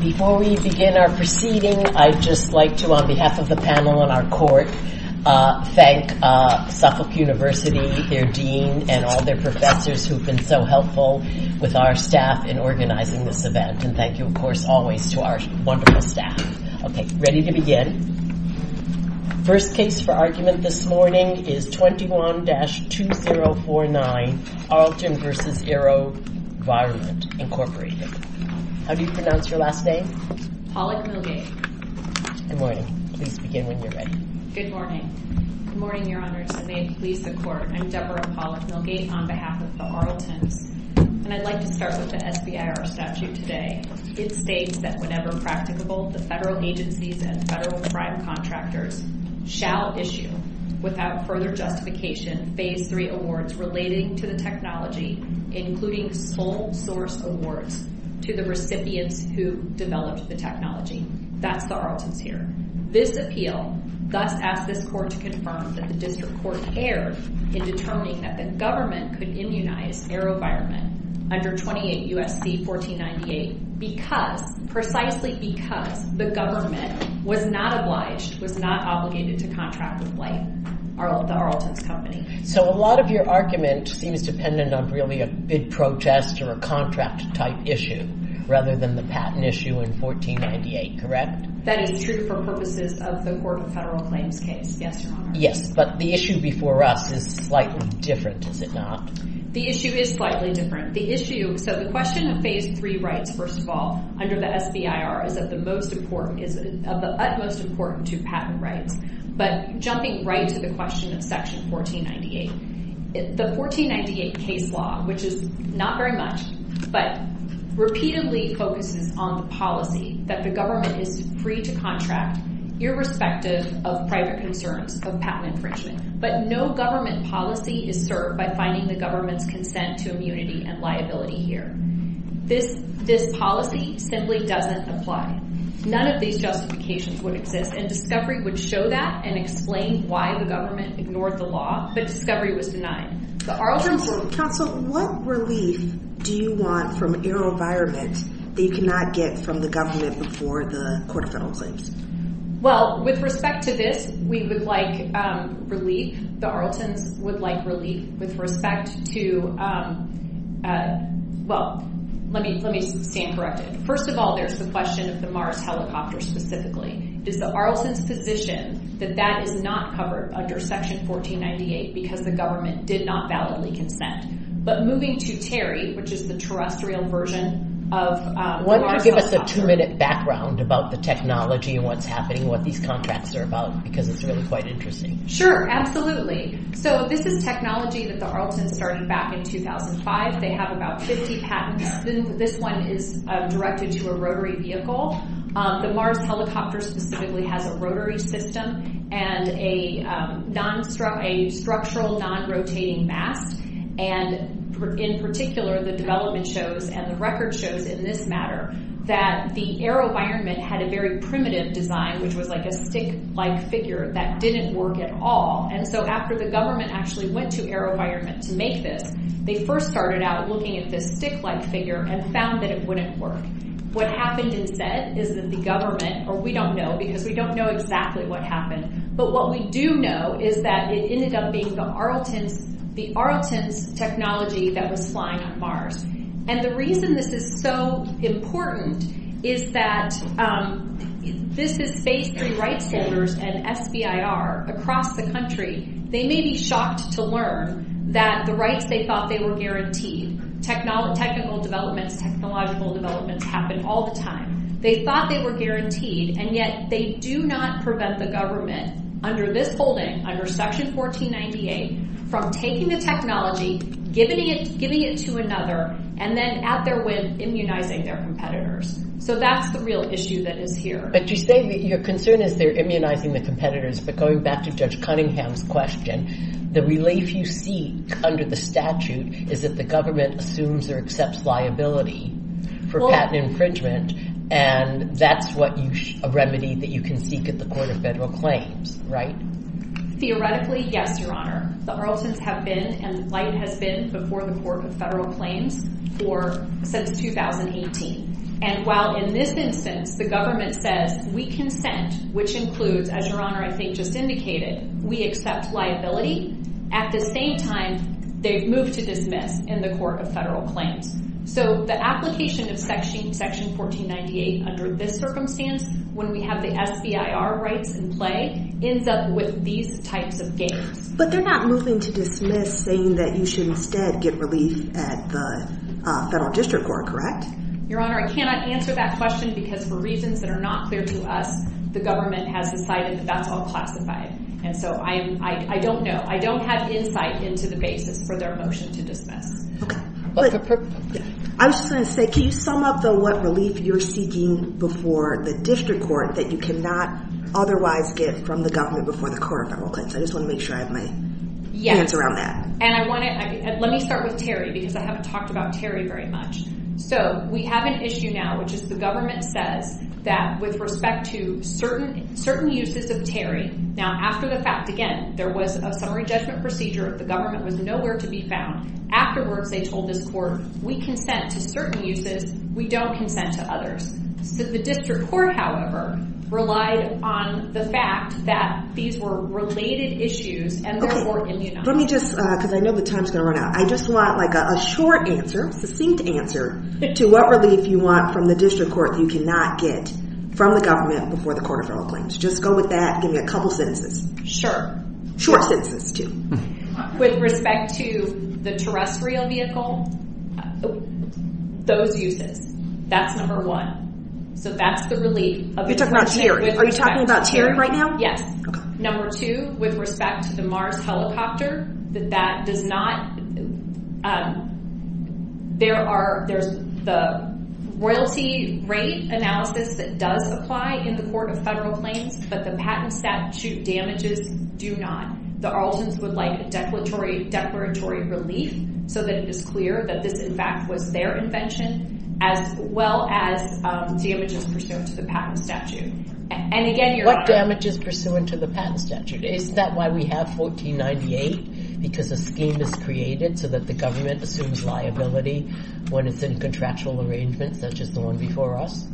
Before we begin our proceeding, I'd just like to, on behalf of the panel and our court, thank Suffolk University, their dean, and all their professors who have been so helpful with our staff in organizing this event. And thank you, of course, always to our wonderful staff. OK, ready to begin. First case for argument this morning is 21-2049, Arlton v. Aerovironment, Incorporated. How do you pronounce your last name? Pollack-Milgate. Good morning. Please begin when you're ready. Good morning. Good morning, Your Honor. And may it please the Court. I'm Deborah Pollack-Milgate on behalf of the Arltons. And I'd like to start with the SBIR statute today. It states that whenever practicable, the federal agencies and federal prime contractors shall issue, without further justification, phase three awards relating to the technology, including sole source awards to the recipients who developed the technology. That's the Arltons here. This appeal thus asks this court to confirm that the district court erred in determining that the government could immunize Aerovironment under 28 U.S.C. 1498 because, precisely because, the government was not obliged, was not obligated to contract with the Arltons company. So a lot of your argument seems dependent on really a bid protest or a contract type issue rather than the patent issue in 1498, correct? That is true for purposes of the Court of Federal Claims case. Yes, Your Honor. Yes, but the issue before us is slightly different, is it not? The issue is slightly different. The issue, so the question of phase three rights, first of all, under the SBIR is of the utmost importance to patent rights. But jumping right to the question of section 1498, the 1498 case law, which is not very much, but repeatedly focuses on the policy that the government is free to contract irrespective of private concerns of patent infringement. But no government policy is served by finding the government's consent to immunity and liability here. This policy simply doesn't apply. None of these justifications would exist. And discovery would show that and explain why the government ignored the law. But discovery was denied. The Arlton's... Counsel, what relief do you want from your environment that you cannot get from the government before the Court of Federal Claims? Well, with respect to this, we would like relief. The Arlton's would like relief with respect to, well, let me stand corrected. First of all, there's the question of the Mars helicopter specifically. Does the Arlton's position that that is not covered under Section 1498 because the government did not validly consent? But moving to Terry, which is the terrestrial version of the Mars helicopter. Why don't you give us a two-minute background about the technology and what's happening, what these contracts are about, because it's really quite interesting. Sure, absolutely. So this is technology that the Arlton's started back in 2005. They have about 50 patents. This one is directed to a rotary vehicle. The Mars helicopter specifically has a rotary system and a structural non-rotating mast. And in particular, the development shows and the record shows in this matter that the Aerovironment had a very primitive design, which was like a stick-like figure that didn't work at all. And so after the government actually went to Aerovironment to make this, they first started out looking at this stick-like figure and found that it wouldn't work. What happened instead is that the government, or we don't know because we don't know exactly what happened, but what we do know is that it ended up being the Arlton's technology that was flying on Mars. And the reason this is so important is that this is basically rights holders and SBIR across the country, they may be shocked to learn that the rights they thought they were guaranteed, technical developments, technological developments happen all the time. They thought they were guaranteed, and yet they do not prevent the government under this holding, under section 1498, from taking the technology, giving it to another, and then at their whim, immunizing their competitors. So that's the real issue that is here. But you say that your concern is they're immunizing the competitors, but going back to Judge Cunningham's question, the relief you see under the statute is that the government assumes or accepts liability for patent infringement, and that's a remedy that you can seek at the Court of Federal Claims, right? Theoretically, yes, Your Honor. The Arlton's have been and light has been before the Court of Federal Claims since 2018. And while in this instance, the government says, we consent, which includes, as Your Honor, I think just indicated, we accept liability, at the same time, they've moved to dismiss in the Court of Federal Claims. So the application of section 1498 under this circumstance, when we have the SBIR rights in play, ends up with these types of gains. But they're not moving to dismiss saying that you should instead get relief at the Federal District Court, correct? Your Honor, I cannot answer that question because for reasons that are not clear to us, the government has decided that that's all classified. And so I don't know, I don't have insight into the basis for their motion to dismiss. Okay. I was just gonna say, can you sum up though what relief you're seeking before the District Court that you cannot otherwise get from the government before the Court of Federal Claims? I just wanna make sure I have my hands around that. And I wanna, let me start with Terry because I haven't talked about Terry very much. So we have an issue now, which is the government says that with respect to certain uses of Terry, now after the fact, again, there was a summary judgment procedure, the government was nowhere to be found. Afterwards, they told this court, we consent to certain uses, we don't consent to others. So the District Court, however, relied on the fact that these were related issues and therefore immunized. Let me just, cause I know the time's gonna run out. I just want like a short answer, succinct answer to what relief you want from the District Court that you cannot get from the government before the Court of Federal Claims. Just go with that, give me a couple sentences. Sure. Short sentences too. With respect to the terrestrial vehicle, those uses, that's number one. So that's the relief. You're talking about Terry. Are you talking about Terry right now? Yes. Number two, with respect to the Mars helicopter, that that does not, there are, there's the royalty rate analysis that does apply in the Court of Federal Claims, but the patent statute damages do not. The Arletons would like a declaratory relief so that it is clear that this in fact was their invention as well as damages pursuant to the patent statute. And again, Your Honor. What damages pursuant to the patent statute? Isn't that why we have 1498? Because a scheme is created so that the government assumes liability when it's in contractual arrangements such as the one before us?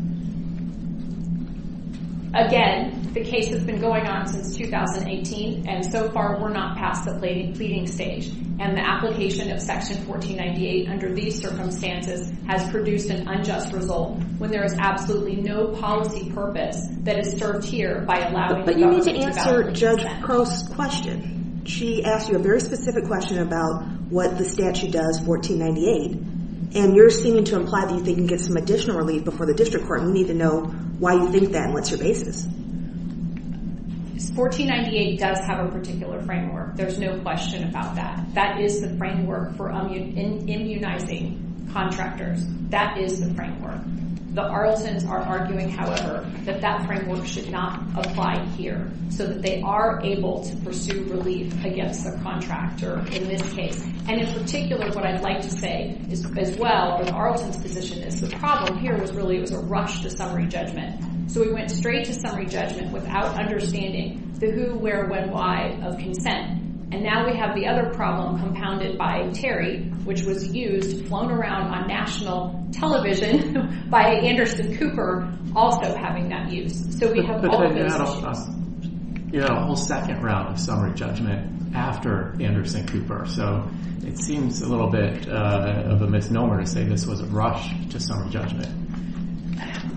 Again, the case has been going on since 2018 and so far we're not past the pleading stage. And the application of section 1498 under these circumstances has produced an unjust result when there is absolutely no policy purpose that is served here by allowing the government to validate the statute. But you need to answer Judge Crow's question. She asked you a very specific question about what the statute does, 1498, and you're seeming to imply that you think you can get some additional relief before the district court. We need to know why you think that and what's your basis. 1498 does have a particular framework. There's no question about that. That is the framework for immunizing contractors. That is the framework. The Arletons are arguing, however, that that framework should not apply here so that they are able to pursue relief against the contractor in this case. And in particular, what I'd like to say as well, with Arleton's position is the problem here was really it was a rush to summary judgment. So we went straight to summary judgment without understanding the who, where, when, why of consent. And now we have the other problem compounded by Terry, which was used, flown around on national television by Anderson Cooper also having that use. So we have all of those issues. Yeah, a whole second round of summary judgment after Anderson Cooper. So it seems a little bit of a misnomer to say this was a rush to summary judgment.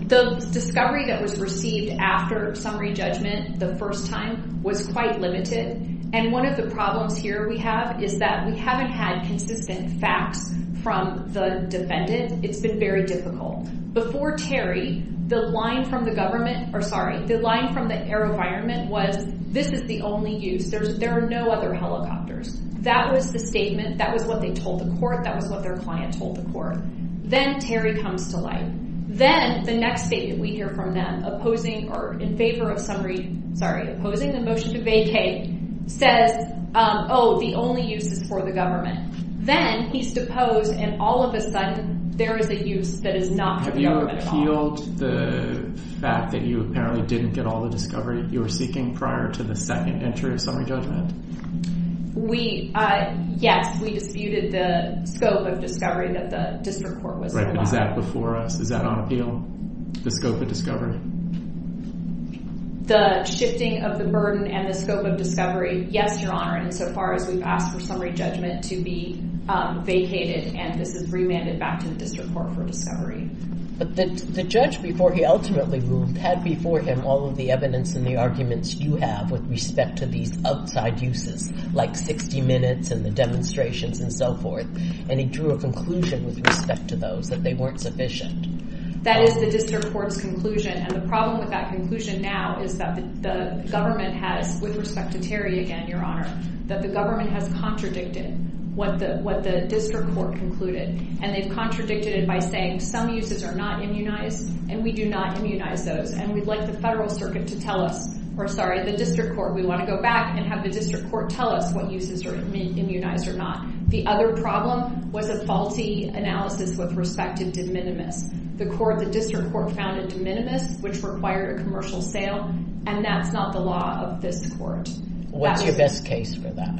The discovery that was received after summary judgment the first time was quite limited. And one of the problems here we have is that we haven't had consistent facts from the defendant. It's been very difficult. Before Terry, the line from the government, or sorry, the line from the air environment was this is the only use. There are no other helicopters. That was the statement. That was what they told the court. That was what their client told the court. Then Terry comes to light. Then the next statement we hear from them opposing or in favor of summary, sorry, opposing the motion to vacate says, oh, the only use is for the government. Then he's deposed and all of a sudden there is a use that is not for the government at all. Have you appealed the fact that you apparently didn't get all the discovery you were seeking prior to the second entry of summary judgment? We, yes, we disputed the scope of discovery that the district court was allowed. Right, but is that before us? Is that on appeal, the scope of discovery? The shifting of the burden and the scope of discovery, yes, your honor, insofar as we've asked for summary judgment to be vacated and this is remanded back to the district court for discovery. But the judge, before he ultimately moved, had before him all of the evidence and the arguments you have with respect to these outside uses, like 60 minutes and the demonstrations and so forth. And he drew a conclusion with respect to those, that they weren't sufficient. That is the district court's conclusion and the problem with that conclusion now is that the government has, with respect to Terry again, your honor, that the government has contradicted what the district court concluded. And they've contradicted it by saying some uses are not immunized and we do not immunize those. And we'd like the federal circuit to tell us, or sorry, the district court, we want to go back and have the district court tell us what uses are immunized or not. The other problem was a faulty analysis with respect to de minimis. The court, the district court, found a de minimis, which required a commercial sale and that's not the law of this court. What's your best case for that?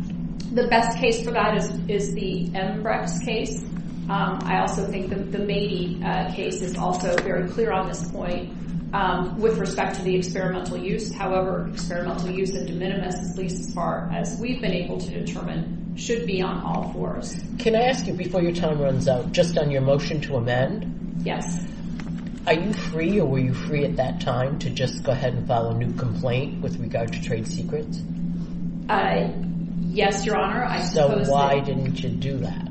The best case for that is the Embrex case. I also think that the Mady case is also very clear on this point with respect to the experimental use. However, experimental use of de minimis, at least as far as we've been able to determine, should be on all fours. Can I ask you, before your time runs out, just on your motion to amend? Yes. Are you free, or were you free at that time, to just go ahead and file a new complaint with regard to trade secrets? Yes, your honor, I suppose so. So why didn't you do that?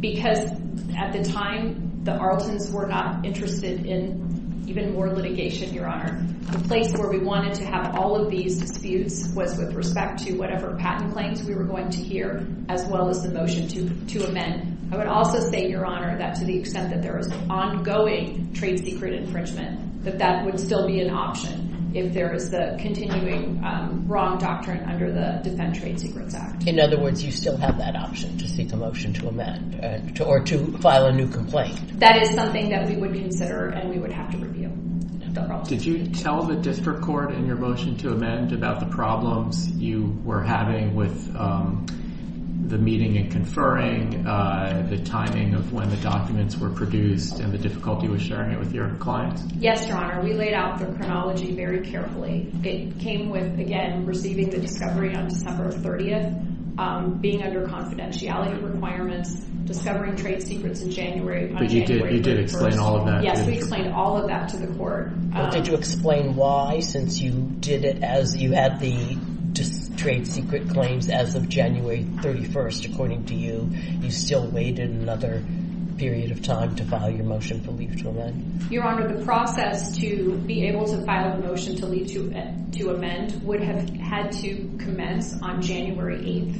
Because at the time, the Arletons were not interested in even more litigation, your honor. The place where we wanted to have all of these disputes was with respect to whatever patent claims we were going to hear, as well as the motion to amend. I would also say, your honor, that to the extent that there is ongoing trade secret infringement, that that would still be an option if there is the continuing wrong doctrine under the Defend Trade Secrets Act. In other words, you still have that option to seek a motion to amend, or to file a new complaint. That is something that we would consider and we would have to review. Did you tell the district court in your motion to amend about the problems you were having with the meeting and conferring, the timing of when the documents were produced, and the difficulty with sharing it with your client? Yes, your honor. We laid out the chronology very carefully. It came with, again, receiving the discovery on December 30th, being under confidentiality requirements, discovering trade secrets on January 31st. But you did explain all of that. Yes, we explained all of that to the court. Well, did you explain why, since you did it as you had the trade secret claims as of January 31st, according to you, you still waited another period of time to file your motion for leave to amend? Your honor, the process to be able to file a motion to leave to amend would have had to commence on January 8th,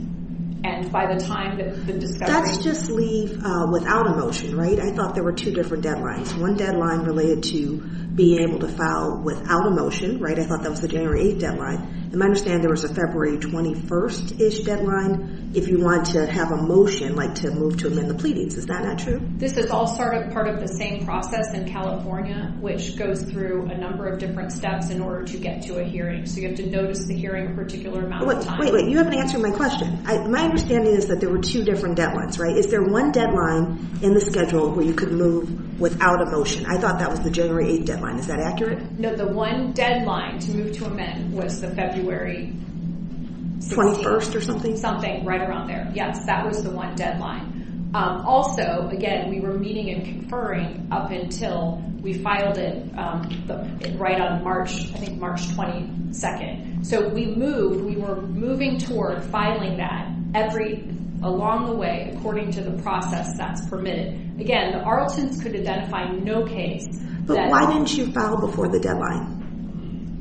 and by the time that the discovery. That's just leave without a motion, right? I thought there were two different deadlines. One deadline related to being able to file without a motion, right? I thought that was the January 8th deadline. And my understanding, there was a February 21st-ish deadline if you wanted to have a motion, like to move to amend the pleadings. Is that not true? This is all sort of part of the same process in California, which goes through a number of different steps in order to get to a hearing. So you have to notice the hearing a particular amount of time. Wait, wait, you haven't answered my question. My understanding is that there were two different deadlines, right? Is there one deadline in the schedule where you could move without a motion? I thought that was the January 8th deadline. Is that accurate? No, the one deadline to move to amend was the February 16th. 21st or something? Something right around there. Yes, that was the one deadline. Also, again, we were meeting and conferring up until we filed it right on March, I think March 22nd. So we moved, we were moving toward filing that every, along the way, according to the process that's permitted. Again, the Arletons could identify no case. But why didn't you file before the deadline?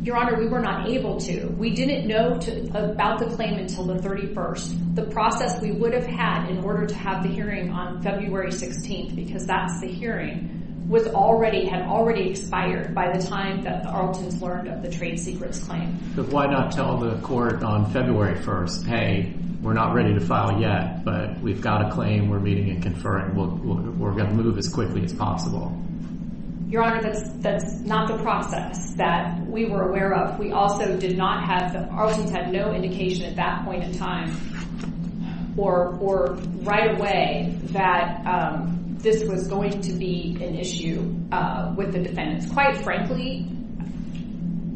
Your Honor, we were not able to. We didn't know about the claim until the 31st. The process we would have had in order to have the hearing on February 16th, because that's the hearing, was already, had already expired by the time that the Arletons learned of the trade secrets claim. But why not tell the court on February 1st, hey, we're not ready to file yet, but we've got a claim, we're meeting and conferring. We're gonna move as quickly as possible. Your Honor, that's not the process that we were aware of. We also did not have, the Arletons had no indication at that point in time or right away that this was going to be an issue with the defendants. Quite frankly,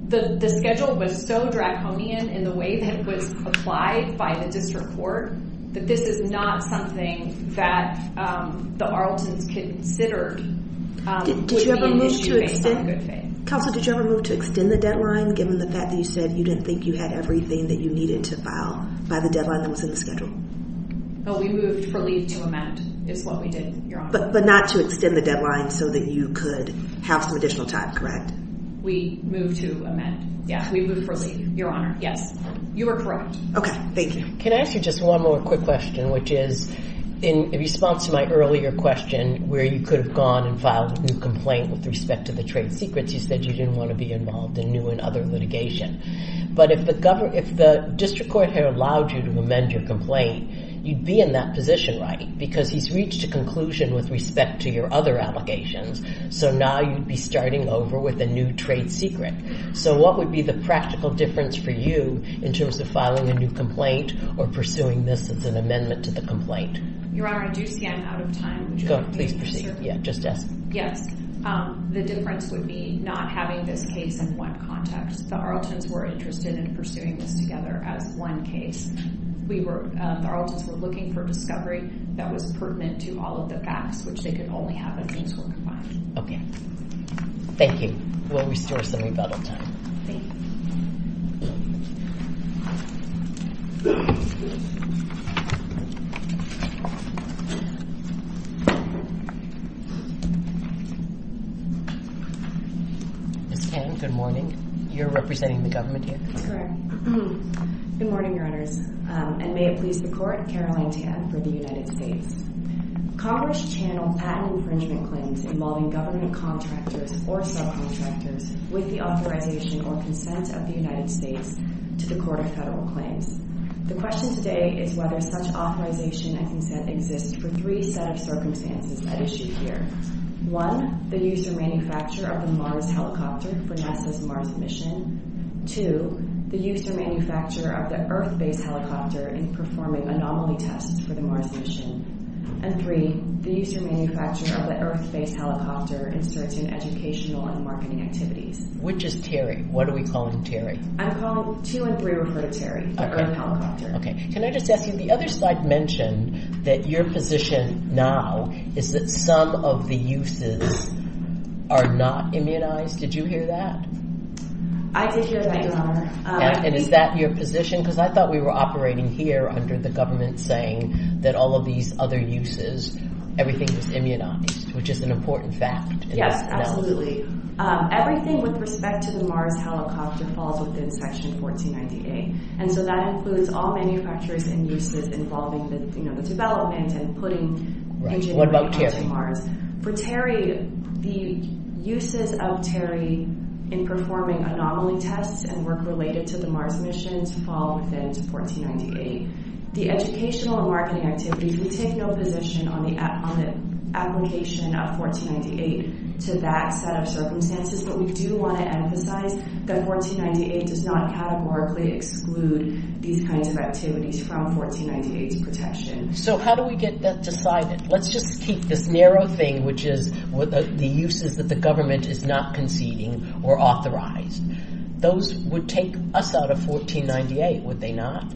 the schedule was so draconian in the way that it was applied by the district court that this is not something that the Arletons considered. Did you ever move to extend, Counselor, did you ever move to extend the deadline given the fact that you said you didn't think you had everything that you needed to file by the deadline that was in the schedule? Oh, we moved for leave to amend is what we did, Your Honor. But not to extend the deadline so that you could have some additional time, correct? We moved to amend, yeah, we moved for leave, Your Honor. Yes, you are correct. Okay, thank you. Can I ask you just one more quick question, which is in response to my earlier question where you could have gone and filed a new complaint with respect to the trade secrets, you said you didn't want to be involved in new and other litigation. But if the district court had allowed you to amend your complaint, you'd be in that position, right? Because he's reached a conclusion with respect to your other allegations, so now you'd be starting over with a new trade secret. So what would be the practical difference for you in terms of filing a new complaint or pursuing this as an amendment to the complaint? Your Honor, I do see I'm out of time. Go, please proceed, yeah, just ask. Yes, the difference would be not having this case in one context. The Arletons were interested in pursuing this together as one case. We were, the Arletons were looking for discovery that was pertinent to all of the facts, which they could only have if things were confined. Okay, thank you. We'll restore some rebuttal time. Thank you. Ms. Tan, good morning. You're representing the government here? That's correct. Good morning, Your Honors. And may it please the Court, Caroline Tan for the United States. Congress channeled patent infringement claims involving government contractors or subcontractors with the authorization or consent of the United States to the court's decision to remove from the Court of Federal Claims. The question today is whether such authorization and consent exists for three set of circumstances at issue here. One, the use or manufacture of the Mars helicopter for NASA's Mars mission. Two, the use or manufacture of the Earth-based helicopter in performing anomaly tests for the Mars mission. And three, the use or manufacture of the Earth-based helicopter in certain educational and marketing activities. Which is Terry? What are we calling Terry? I'm calling two and three refer to Terry. Okay. Earth helicopter. Okay, can I just ask you, the other slide mentioned that your position now is that some of the uses are not immunized. Did you hear that? I did hear that, Your Honor. And is that your position? Because I thought we were operating here under the government saying that all of these other uses, everything was immunized, which is an important fact. Yes, absolutely. Everything with respect to the Mars helicopter falls within section 1498. And so that includes all manufacturers and uses involving the development and putting- Right, what about Terry? For Terry, the uses of Terry in performing anomaly tests and work related to the Mars mission to fall within to 1498. The educational and marketing activities, we take no position on the application of 1498 to that set of circumstances. But we do want to emphasize that 1498 does not categorically exclude these kinds of activities from 1498's protection. So how do we get that decided? Let's just keep this narrow thing, which is the uses that the government is not conceding or authorized. Those would take us out of 1498, would they not?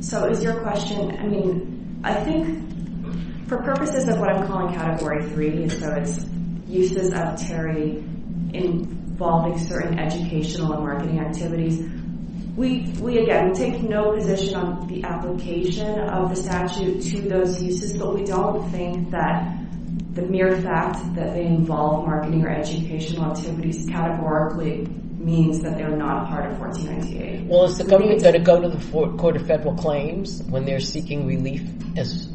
So is your question, I mean, I think for purposes of what I'm calling category three, so it's uses of Terry involving certain educational and marketing activities. We, again, we take no position on the application of the statute to those uses, but we don't think that the mere fact that they involve marketing or educational activities categorically means that they're not a part of 1498. Well, is the government gonna go to the Court of Federal Claims when they're seeking relief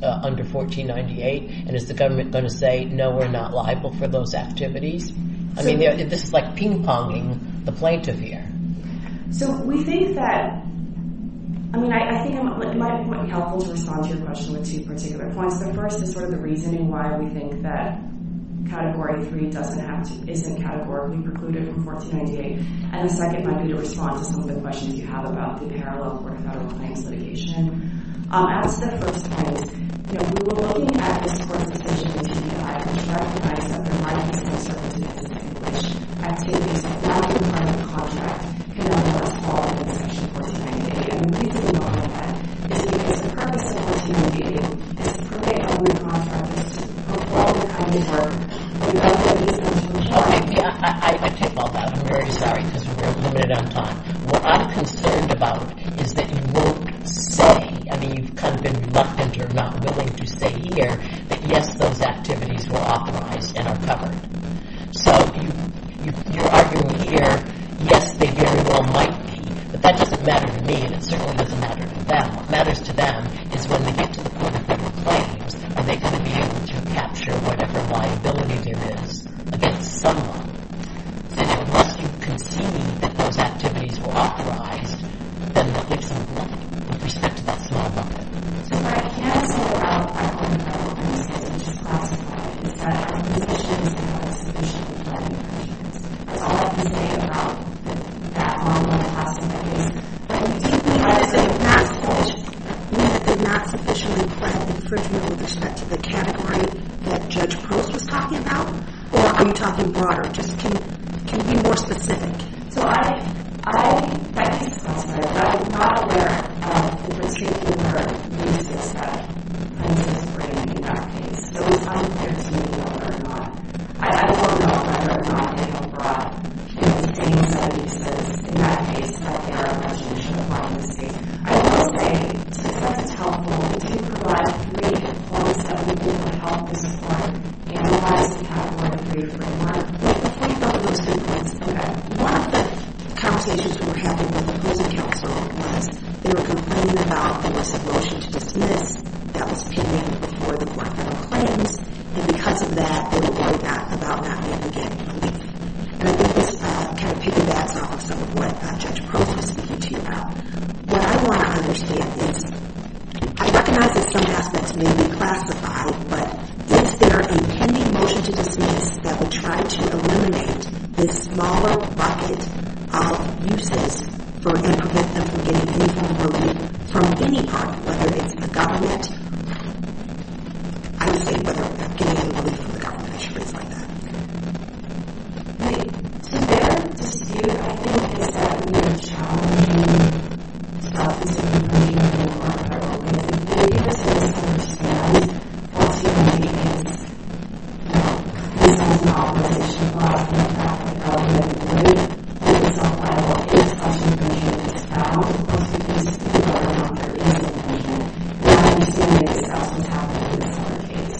under 1498? And is the government gonna say, no, we're not liable for those activities? I mean, this is like ping-ponging the plaintiff here. So we think that, I mean, I think it might be helpful to respond to your question with two particular points. The first is sort of the reasoning why we think that category three doesn't have to, isn't categorically precluded from 1498. And the second might be to respond to some of the questions you have about the parallel Court of Federal Claims litigation. As the first point, you know, we're looking at this Court's decision to deny or to recognize that there might be some circumstances in which activities are found to be part of the contract in other words, fall under section 1498. And we think that the only way is to disperse 1498 and disperse the other contracts. But while we're coming forward, we don't think this is a solution. Okay, I take all that. I'm very sorry, because we're running out of time. What I'm concerned about is that you won't say, I mean, you've kind of been reluctant or not willing to say here, that yes, those activities were authorized and are covered. So you're arguing here, yes, they very well might be, but that doesn't matter to me and it certainly doesn't matter to them. What matters to them is when they get to the Court of Federal Claims, are they gonna be able to capture whatever liability there is against someone? And unless you concede that those activities were authorized, then what makes them relevant with respect to that small bucket? So I can't say without, I don't even know who I'm supposed to discuss about this, but I think this issue is not a sufficient one. That's all I can say about that long list of possibilities. I can certainly say that's false. We did not sufficiently present the infringement with respect to the category that Judge Pearls was talking about. Or are you talking broader? Just can you be more specific? So I think it's false, but I'm not aware of the particular cases that Prince is bringing in that case. So it's not clear to me whether or not, I don't know whether or not they are brought into the case that he says, in that case, that they are a contradiction of privacy. I will say, since that is helpful, to provide brief points of view on how this is working, and why this is not working beautifully, but I can tell you about those brief points of view. One of the conversations we were having with the prison counselor was, they were complaining about there was a motion to dismiss that was pending before the court for the claims, and because of that, they were worried about not being able to get relief. And I think this kind of piggybacks off of some of what Judge Pearls was speaking to you about. What I want to understand is, I recognize that some aspects may be classified, but is there a pending motion to dismiss that will try to eliminate this smaller bucket of uses for, and prevent them from getting any kind of relief from any party, whether it's the government. I would say, whether they're getting any relief from the government, I'm sure it's like that. Okay, so there, this is here, I think it's seven minutes long. So I'll just read a little bit more. I hope that you can understand what's happening here. So, this is an authorization by the Department of Health and Human Relief, and it's on file against us in Virginia, and it's been held for most of this, for a number of years in Virginia. And I'm assuming it's also happening in this other case.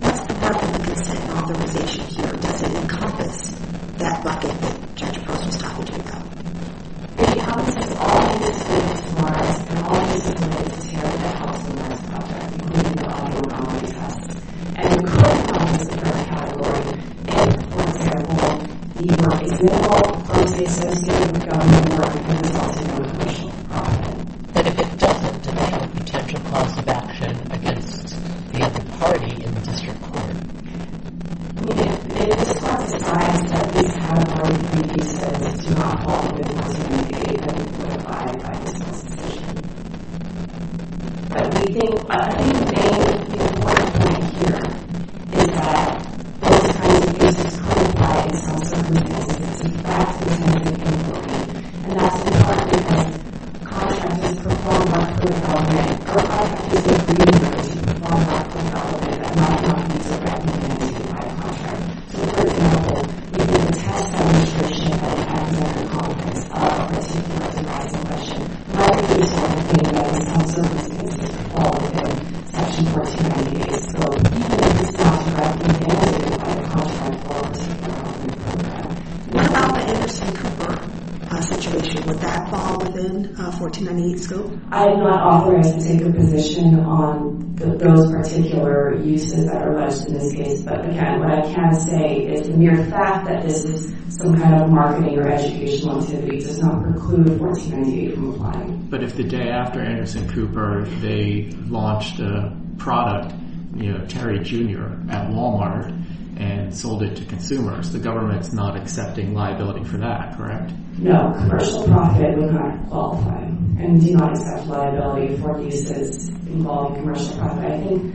What's the benefit of this authorization here? Does it encompass that bucket that Judge Pearls was talking to you about? It encompasses all of the use cases for us, and all of the use cases here that have caused the most problems, including a lot of our own cases, and the current ones in our category. And for example, the money, we're not going to be suspending the government for the purpose of supporting immigration profit. But if it doesn't, then there's a potential cause of action against the other party in the district court. It is not a surprise that this category of use cases is not one that is going to be given, or denied by the solicitation. But we think, I think the main important thing here is that those kinds of use cases are provided in some circumstances, perhaps it's not even important. And that's because the contract is performed on a criminal record, or a contract is agreed upon to be performed on a criminal record, and not on a misdemeanor case, and not on a contract. So for example, we can test the restriction that we have in the Congress of the 1498 selection. And that is used in some circumstances all within section 1498. So even if it's not directly against it, it's probably a contract for us. What about the Anderson Cooper situation? Would that fall within 1498 scope? I am not authorized to take a position on those particular uses that are alleged in this case. But again, what I can say is the mere fact that this is some kind of marketing or educational activity does not preclude 1498 from applying. But if the day after Anderson Cooper, they launched a product, Terry Jr. at Walmart, and sold it to consumers, the government's not accepting liability for that, correct? No, commercial profit would not qualify, and do not accept liability for cases involving commercial profit. I think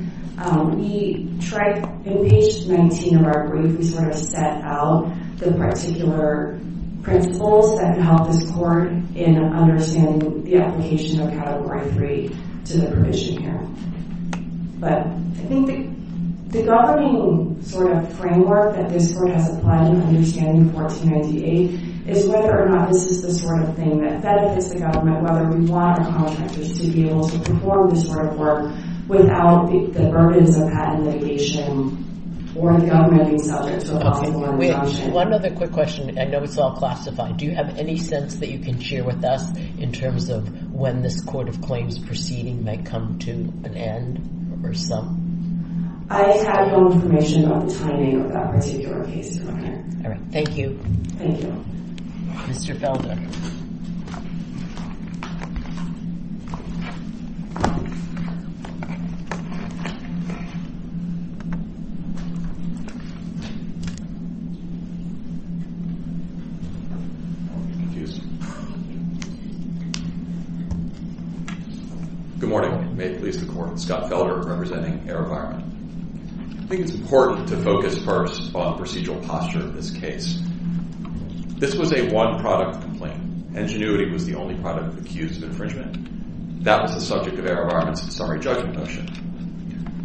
we tried, in page 19 of our brief, we sort of set out the particular principles that could help this court in understanding the application of Category 3 to the provision here. But I think the governing sort of framework that this court has applied in understanding 1498 is whether or not this is the sort of thing that benefits the government, whether we want our contractors to be able to perform this sort of work without the burdens of patent litigation or the governing subject of law enforcement action. One other quick question. I know it's all classified. Do you have any sense that you can share with us in terms of when this court of claims proceeding might come to an end or some? I have no information on the timing of that particular case, Your Honor. All right, thank you. Thank you. Mr. Felda. I'm confused. Good morning. May it please the court. Scott Felder, representing Aerovironment. I think it's important to focus first on procedural posture of this case. This was a one-product complaint. Ingenuity was the only product of accused infringement. That was the subject of Aerovironment's summary judgment motion.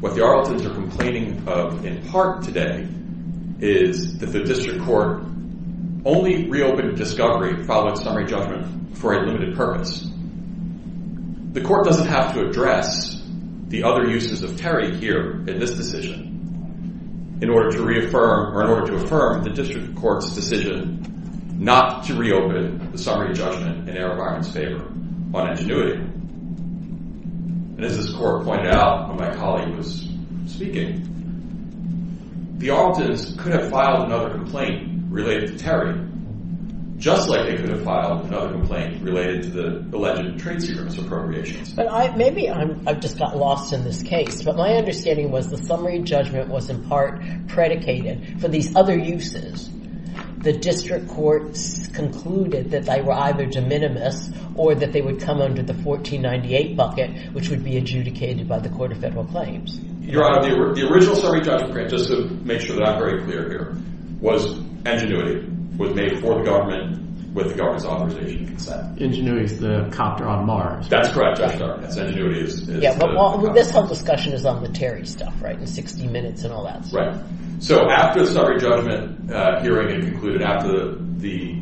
What the Arletons are complaining of in part today is that the district court only reopened discovery following summary judgment for a limited purpose. The court doesn't have to address the other uses of Terry here in this decision in order to reaffirm or in order to affirm the district court's decision not to reopen the summary judgment in Aerovironment's favor on ingenuity. And as this court pointed out when my colleague was speaking, the Arletons could have filed another complaint related to Terry, just like they could have filed another complaint related to the alleged trade secrets appropriations. But maybe I've just got lost in this case, but my understanding was the summary judgment was in part predicated for these other uses. The district courts concluded that they were either de minimis or that they would come under the 1498 bucket, which would be adjudicated by the court of federal claims. Your honor, the original summary judgment, just to make sure that I'm very clear here, was ingenuity was made for the government with the government's authorization and consent. Ingenuity is the copter on Mars. That's correct, your honor. That's ingenuity is the copter on Mars. This whole discussion is on the Terry stuff, right? And 60 minutes and all that stuff. Right. So after the summary judgment hearing had concluded, after the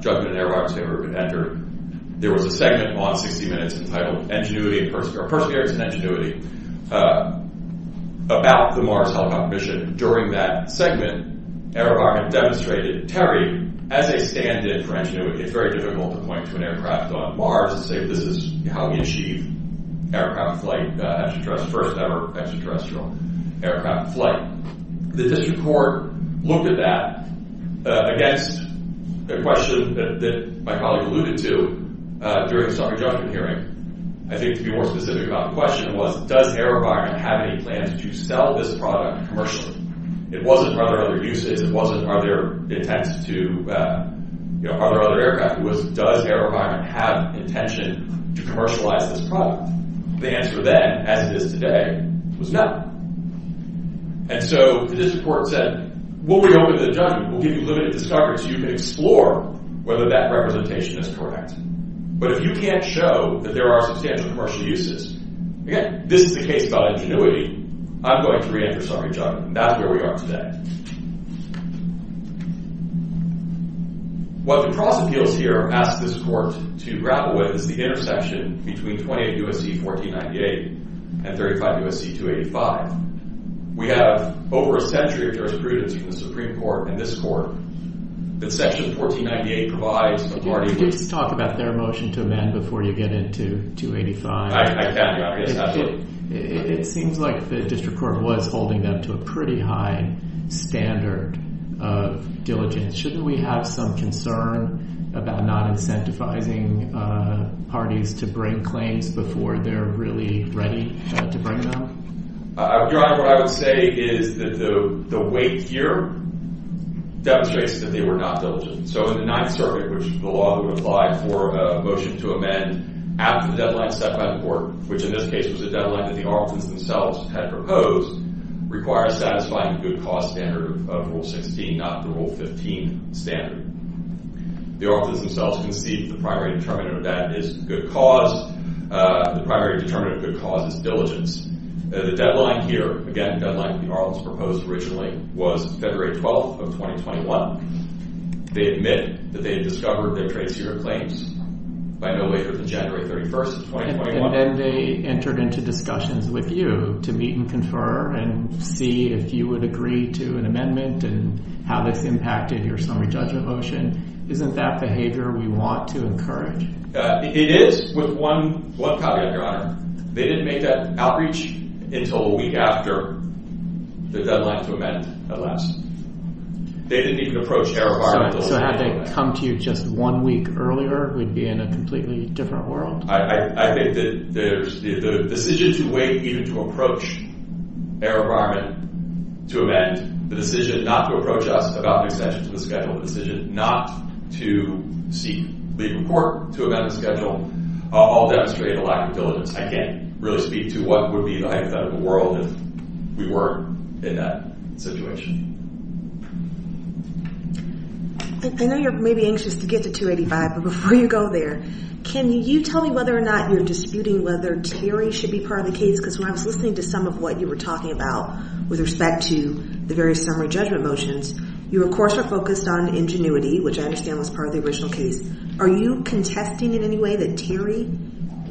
judgment in Aerovironment's favor had been entered, there was a segment on 60 Minutes entitled Perseverance and Ingenuity about the Mars helicopter mission. During that segment, Aerovironment demonstrated Terry as a standard for ingenuity. It's very difficult to point to an aircraft on Mars and say this is how we achieve aircraft flight, first ever extraterrestrial aircraft flight. The district court looked at that against a question that my colleague alluded to during the summary judgment hearing. I think to be more specific about the question was, does Aerovironment have any plans to sell this product commercially? It wasn't, are there other uses? It wasn't, are there intents to, are there other aircraft? It was, does Aerovironment have intention to commercialize this product? The answer then, as it is today, was no. And so the district court said, we'll reopen the judgment. We'll give you limited discovery so you can explore whether that representation is correct. But if you can't show that there are substantial commercial uses, again, this is the case about ingenuity, I'm going to reenter summary judgment, and that's where we are today. What the cross appeals here ask this court to grapple with is the intersection between 20 U.S.C. 1498 and 35 U.S.C. 285. We have over a century of jurisprudence between the Supreme Court and this court, but section 1498 provides a party- Could you just talk about their motion to amend before you get into 285? I can, yes, absolutely. It seems like the district court was holding them to a pretty high standard of diligence. Shouldn't we have some concern about not incentivizing parties to bring claims before they're really ready to bring them? Your Honor, what I would say is the weight here demonstrates that they were not diligent. So in the Ninth Circuit, which is the law that would apply for a motion to amend after the deadline set by the court, which in this case was a deadline that the Arlington's themselves had proposed, requires satisfying the good cause standard of Rule 16, not the Rule 15 standard. The Arlington's themselves conceived the primary determinant of that is good cause. The primary determinant of good cause is diligence. The deadline here, again, the deadline that the Arlington's proposed originally was February 12th of 2021. They admit that they had discovered their trade secret claims by no later than January 31st of 2021. And then they entered into discussions with you to meet and confer and see if you would agree to an amendment and how this impacted your summary judgment motion. Isn't that behavior we want to encourage? It is, with one caveat, Your Honor. They didn't make that outreach until a week after the deadline to amend, at last. They didn't even approach our environmental- So had they come to you just one week earlier, we'd be in a completely different world? I think that the decision to wait even to approach our environment to amend, the decision not to approach us about an extension to the schedule, the decision not to seek legal court to amend the schedule, all demonstrate a lack of diligence. I can't really speak to what would be the height of that in the world if we weren't in that situation. I know you're maybe anxious to get to 285, but before you go there, can you tell me whether or not you're disputing whether Terry should be part of the case? Because when I was listening to some of what you were talking about with respect to the various summary judgment motions, you of course are focused on ingenuity, which I understand was part of the original case. Are you contesting in any way that Terry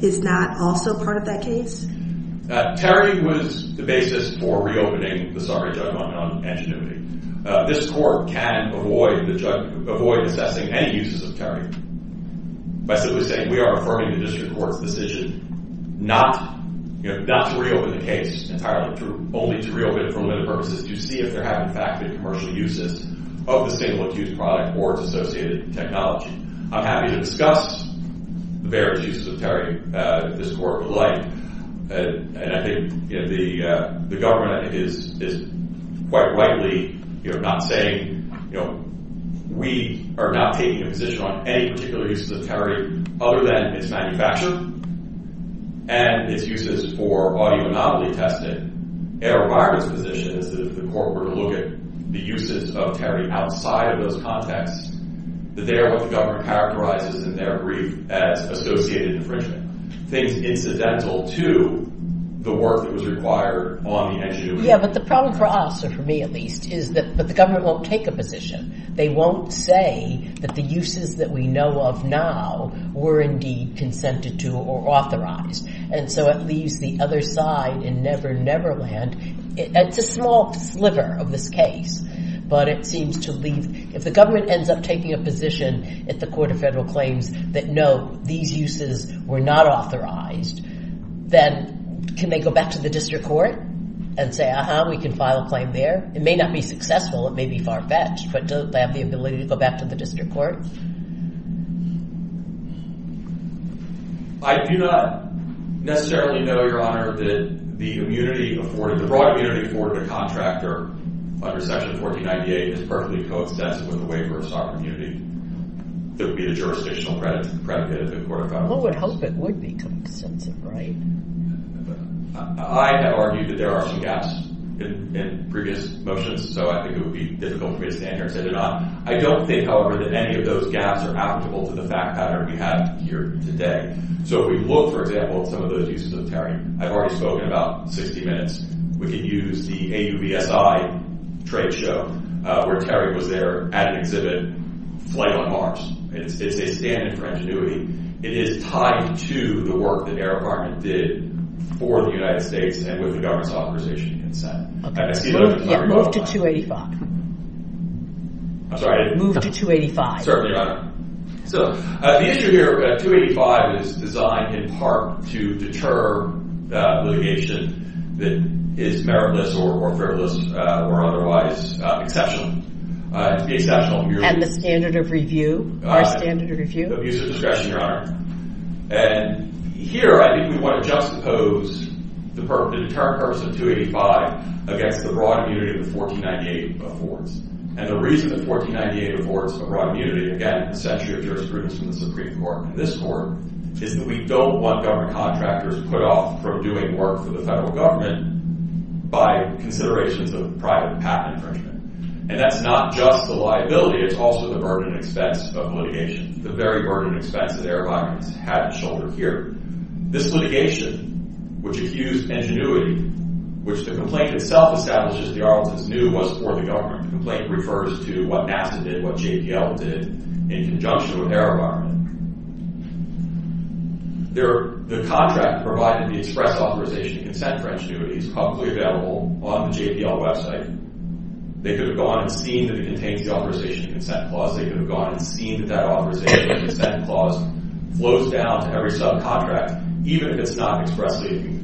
is not also part of that case? Terry was the basis for reopening the summary judgment on ingenuity. This court can avoid assessing any uses of Terry. By simply saying we are affirming the district court's decision not to reopen the case entirely, only to reopen it for limited purposes to see if there have been factored commercial uses of the single-accused product or its associated technology. I'm happy to discuss the various uses of Terry if this court would like. And I think the government is quite rightly not saying, we are not taking a position on any particular uses of Terry other than its manufacturing and its uses for audio-anomaly testing. And our environment's position is that if the court were to look at the uses of Terry outside of those contexts, that they are what the government characterizes in their brief as associated infringement. Things incidental to the work that was required on the issue. Yeah, but the problem for us, or for me at least, is that the government won't take a position. They won't say that the uses that we know of now were indeed consented to or authorized. And so it leaves the other side in never-never land. It's a small sliver of this case, but it seems to leave, if the government ends up taking a position at the Court of Federal Claims that, no, these uses were not authorized, then can they go back to the district court and say, uh-huh, we can file a claim there? It may not be successful, it may be far-fetched, but do they have the ability to go back to the district court? I do not necessarily know, Your Honor, that the broad immunity afforded to a contractor under Section 1498 is perfectly coextensive with a waiver of sovereign immunity. That would be the jurisdictional predicate of the Court of Federal Claims. Well, we'd hope it would be coextensive, right? I have argued that there are some gaps in previous motions, so I think it would be difficult for me to stand here and say they're not. I don't think, however, that any of those gaps are applicable to the fact pattern we have here today. So if we look, for example, at some of those uses of tariff, I've already spoken about 60 minutes, we can use the AUVSI trade show, where Terry was there at an exhibit, Flight on Mars. It's a standard for ingenuity. It is tied to the work that Air Department did for the United States and with the government's authorization and consent. And I see there's a couple of rebuttals. Yeah, move to 285. I'm sorry? Move to 285. Certainly, Your Honor. So the issue here, 285, is designed, in part, to deter litigation that is meritless or frivolous or otherwise exceptional, to be exceptional. And the standard of review, our standard of review? Abuse of discretion, Your Honor. And here, I think we want to juxtapose the deterrent purpose of 285 against the broad immunity that 1498 affords. And the reason that 1498 affords a broad immunity, again, essentially a jurisprudence from the Supreme Court and this Court, is that we don't want government contractors put off from doing work for the federal government by considerations of private patent infringement. And that's not just the liability. It's also the burden and expense of litigation, the very burden and expense that Air Department's had its shoulder here. This litigation, which accused ingenuity, which the complaint itself establishes the Arlington's knew was for the government. The complaint refers to what NASA did, what JPL did, in conjunction with Air Department. The contract provided the express authorization to consent for ingenuity is publicly available on the JPL website. They could have gone and seen that it contains the authorization consent clause. They could have gone and seen that that authorization consent clause flows down to every subcontract, even if it's not expressly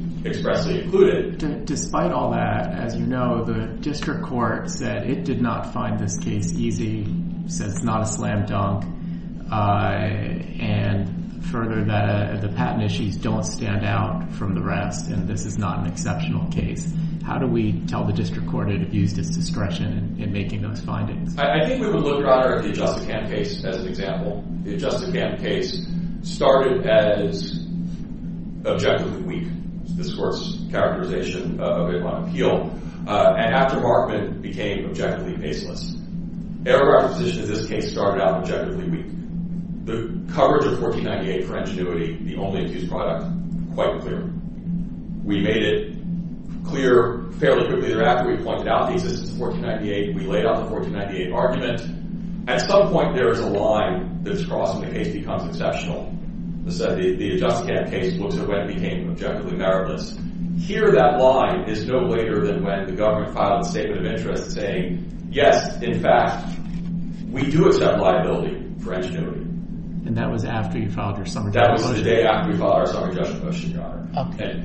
included. Despite all that, as you know, the district court said it did not find this case easy, says it's not a slam dunk. And further, that the patent issues don't stand out from the rest, and this is not an exceptional case. How do we tell the district court it abused its discretion in making those findings? I think we would look rather at the Adjusted Camp case as an example. The Adjusted Camp case started as objective and weak. This Court's characterization of it on appeal. And after Markman became objectively faceless. Aircraft's position in this case started out objectively weak. The coverage of 1498 for ingenuity, the only accused product, quite clear. We made it clear fairly quickly thereafter. We pointed out the existence of 1498. We laid out the 1498 argument. At some point, there is a line that's crossing the case becomes exceptional. The Adjusted Camp case looks at when it became objectively meritless. Here, that line is no later than when the government filed a statement of interest saying, yes, in fact, we do accept liability for ingenuity. And that was after you filed your summary judgment motion? That was the day after we filed our summary judgment motion, Your Honor. Okay.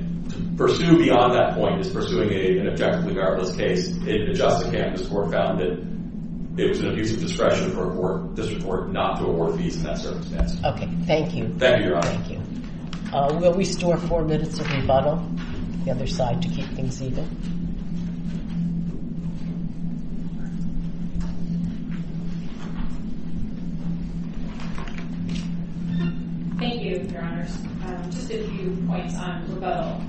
Pursued beyond that point is pursuing an objectively meritless case. In the Adjusted Camp, this Court found that it was an abusive discretion for a district court not to award fees in that circumstance. Okay, thank you. Thank you, Your Honor. Thank you. Will we store four minutes of rebuttal? The other side to keep things even. Thank you, Your Honors. Just a few points on rebuttal.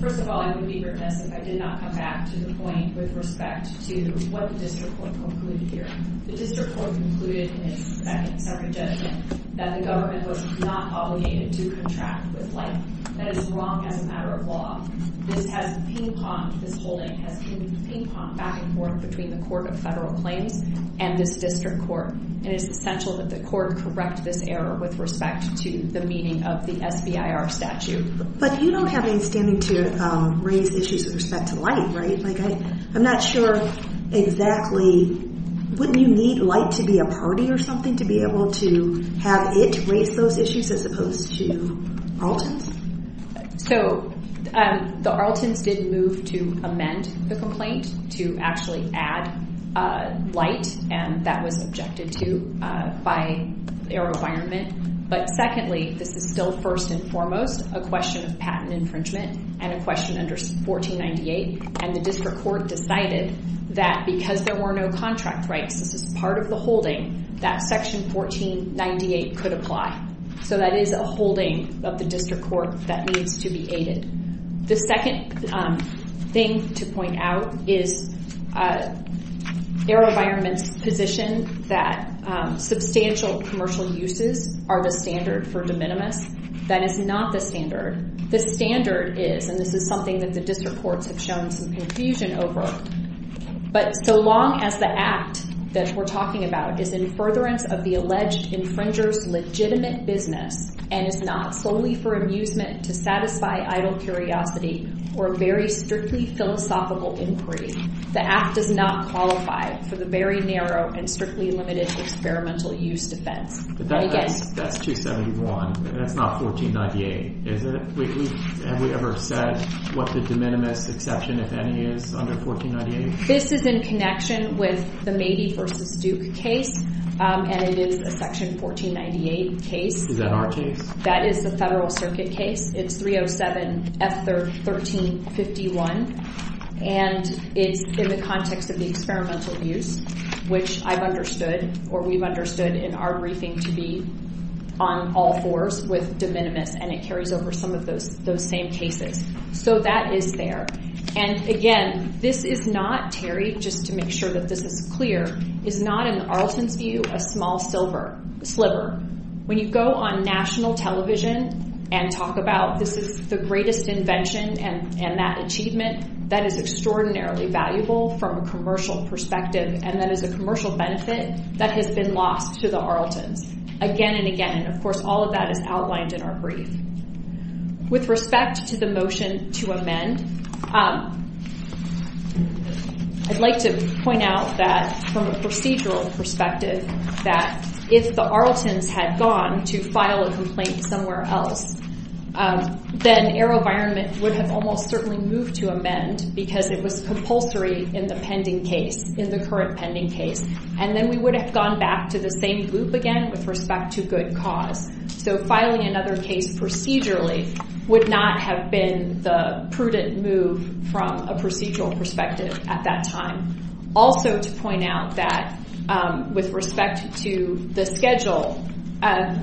First of all, I would be remiss if I did not come back to the point with respect to what the district court concluded here. The district court concluded in its second summary judgment that the government was not obligated to contract with light. That is wrong as a matter of law. This has ping-ponged, this holding has ping-ponged back and forth between the Court of Federal Claims and this district court. And it's essential that the court correct this error with respect to the meaning of the SBIR statute. But you don't have any standing to raise issues with respect to light, right? I'm not sure exactly, wouldn't you need light to be a party or something to be able to have it raise those issues as opposed to Arlton's? So, the Arlton's did move to amend the complaint to actually add light and that was objected to by their requirement. But secondly, this is still first and foremost a question of patent infringement and a question under 1498. And the district court decided that because there were no contract rights, this is part of the holding, that section 1498 could apply. So that is a holding of the district court that needs to be aided. The second thing to point out is Error Environment's position that substantial commercial uses are the standard for de minimis. That is not the standard. The standard is, and this is something that the district courts have shown some confusion over, but so long as the act that we're talking about is in furtherance of the alleged infringer's legitimate business and is not solely for amusement to satisfy idle curiosity or very strictly philosophical inquiry, the act does not qualify for the very narrow and strictly limited experimental use defense. And again, That's 271, that's not 1498, is it? Have we ever said what the de minimis exception, if any, is under 1498? This is in connection with the Mady versus Duke case, and it is a section 1498 case. Is that our case? That is the federal circuit case. It's 307 F1351, and it's in the context of the experimental use, which I've understood, or we've understood in our briefing to be on all fours with de minimis, and it carries over some of those same cases. So that is there. And again, this is not, Terry, just to make sure that this is clear, is not in Arlton's view a small sliver. When you go on national television and talk about this is the greatest invention and that achievement, that is extraordinarily valuable from a commercial perspective, and that is a commercial benefit that has been lost to the Arltons, again and again, and of course, all of that is outlined in our brief. With respect to the motion to amend, I'd like to point out that from a procedural perspective, that if the Arltons had gone to file a complaint somewhere else, then Arrow-Vironment would have almost certainly moved to amend because it was compulsory in the pending case, in the current pending case, and then we would have gone back to the same group again with respect to good cause. So filing another case procedurally would not have been the prudent move from a procedural perspective at that time. Also to point out that with respect to the schedule,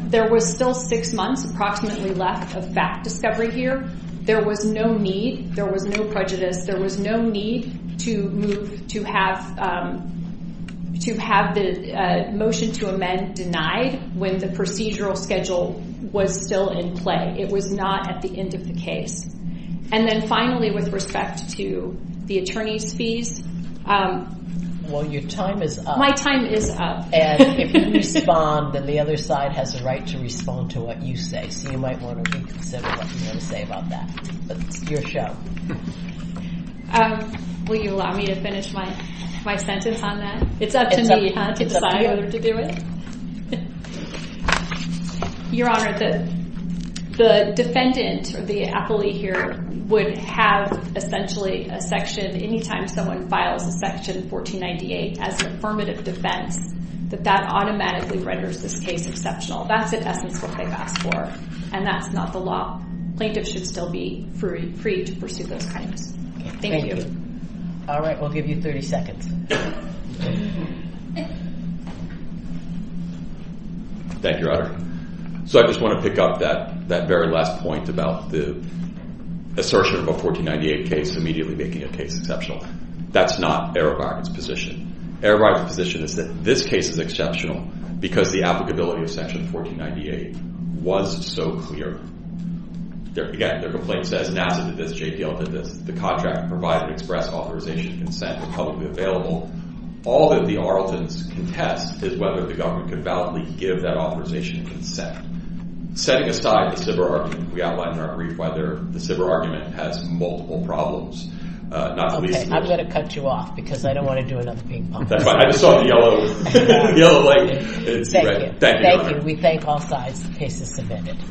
there was still six months approximately left of fact discovery here. There was no need, there was no prejudice, there was no need to move to have, to have the motion to amend denied when the procedural schedule was still in play. It was not at the end of the case. And then finally, with respect to the attorney's fees. Well, your time is up. My time is up. And if you respond, then the other side has the right to respond to what you say. So you might want to reconsider what you want to say about that. But it's your show. Will you allow me to finish my sentence on that? It's up to me to decide whether to do it. Your Honor, the defendant, or the appellee here, would have essentially a section, any time someone files a section 1498 as an affirmative defense, that that automatically renders this case exceptional. That's in essence what they've asked for. And that's not the law. Plaintiffs should still be free to pursue those crimes. Thank you. All right, we'll give you 30 seconds. Thank you, Your Honor. So I just want to pick up that very last point about the assertion of a 1498 case immediately making a case exceptional. That's not Erebach's position. Erebach's position is that this case is exceptional because the applicability of section 1498 was so clear. Again, their complaint says NASA did this, JPL did this. The contract provided express authorization and consent was publicly available. All that the Arletons contest is whether the government could validly give that authorization and consent. Setting aside the Siber argument, we outlined in our brief whether the Siber argument has multiple problems. Not at least... Okay, I'm going to cut you off because I don't want to do another ping-pong. That's fine. I just saw the yellow light. Thank you. Thank you, Your Honor. Thank you. We thank all sides. The case is submitted.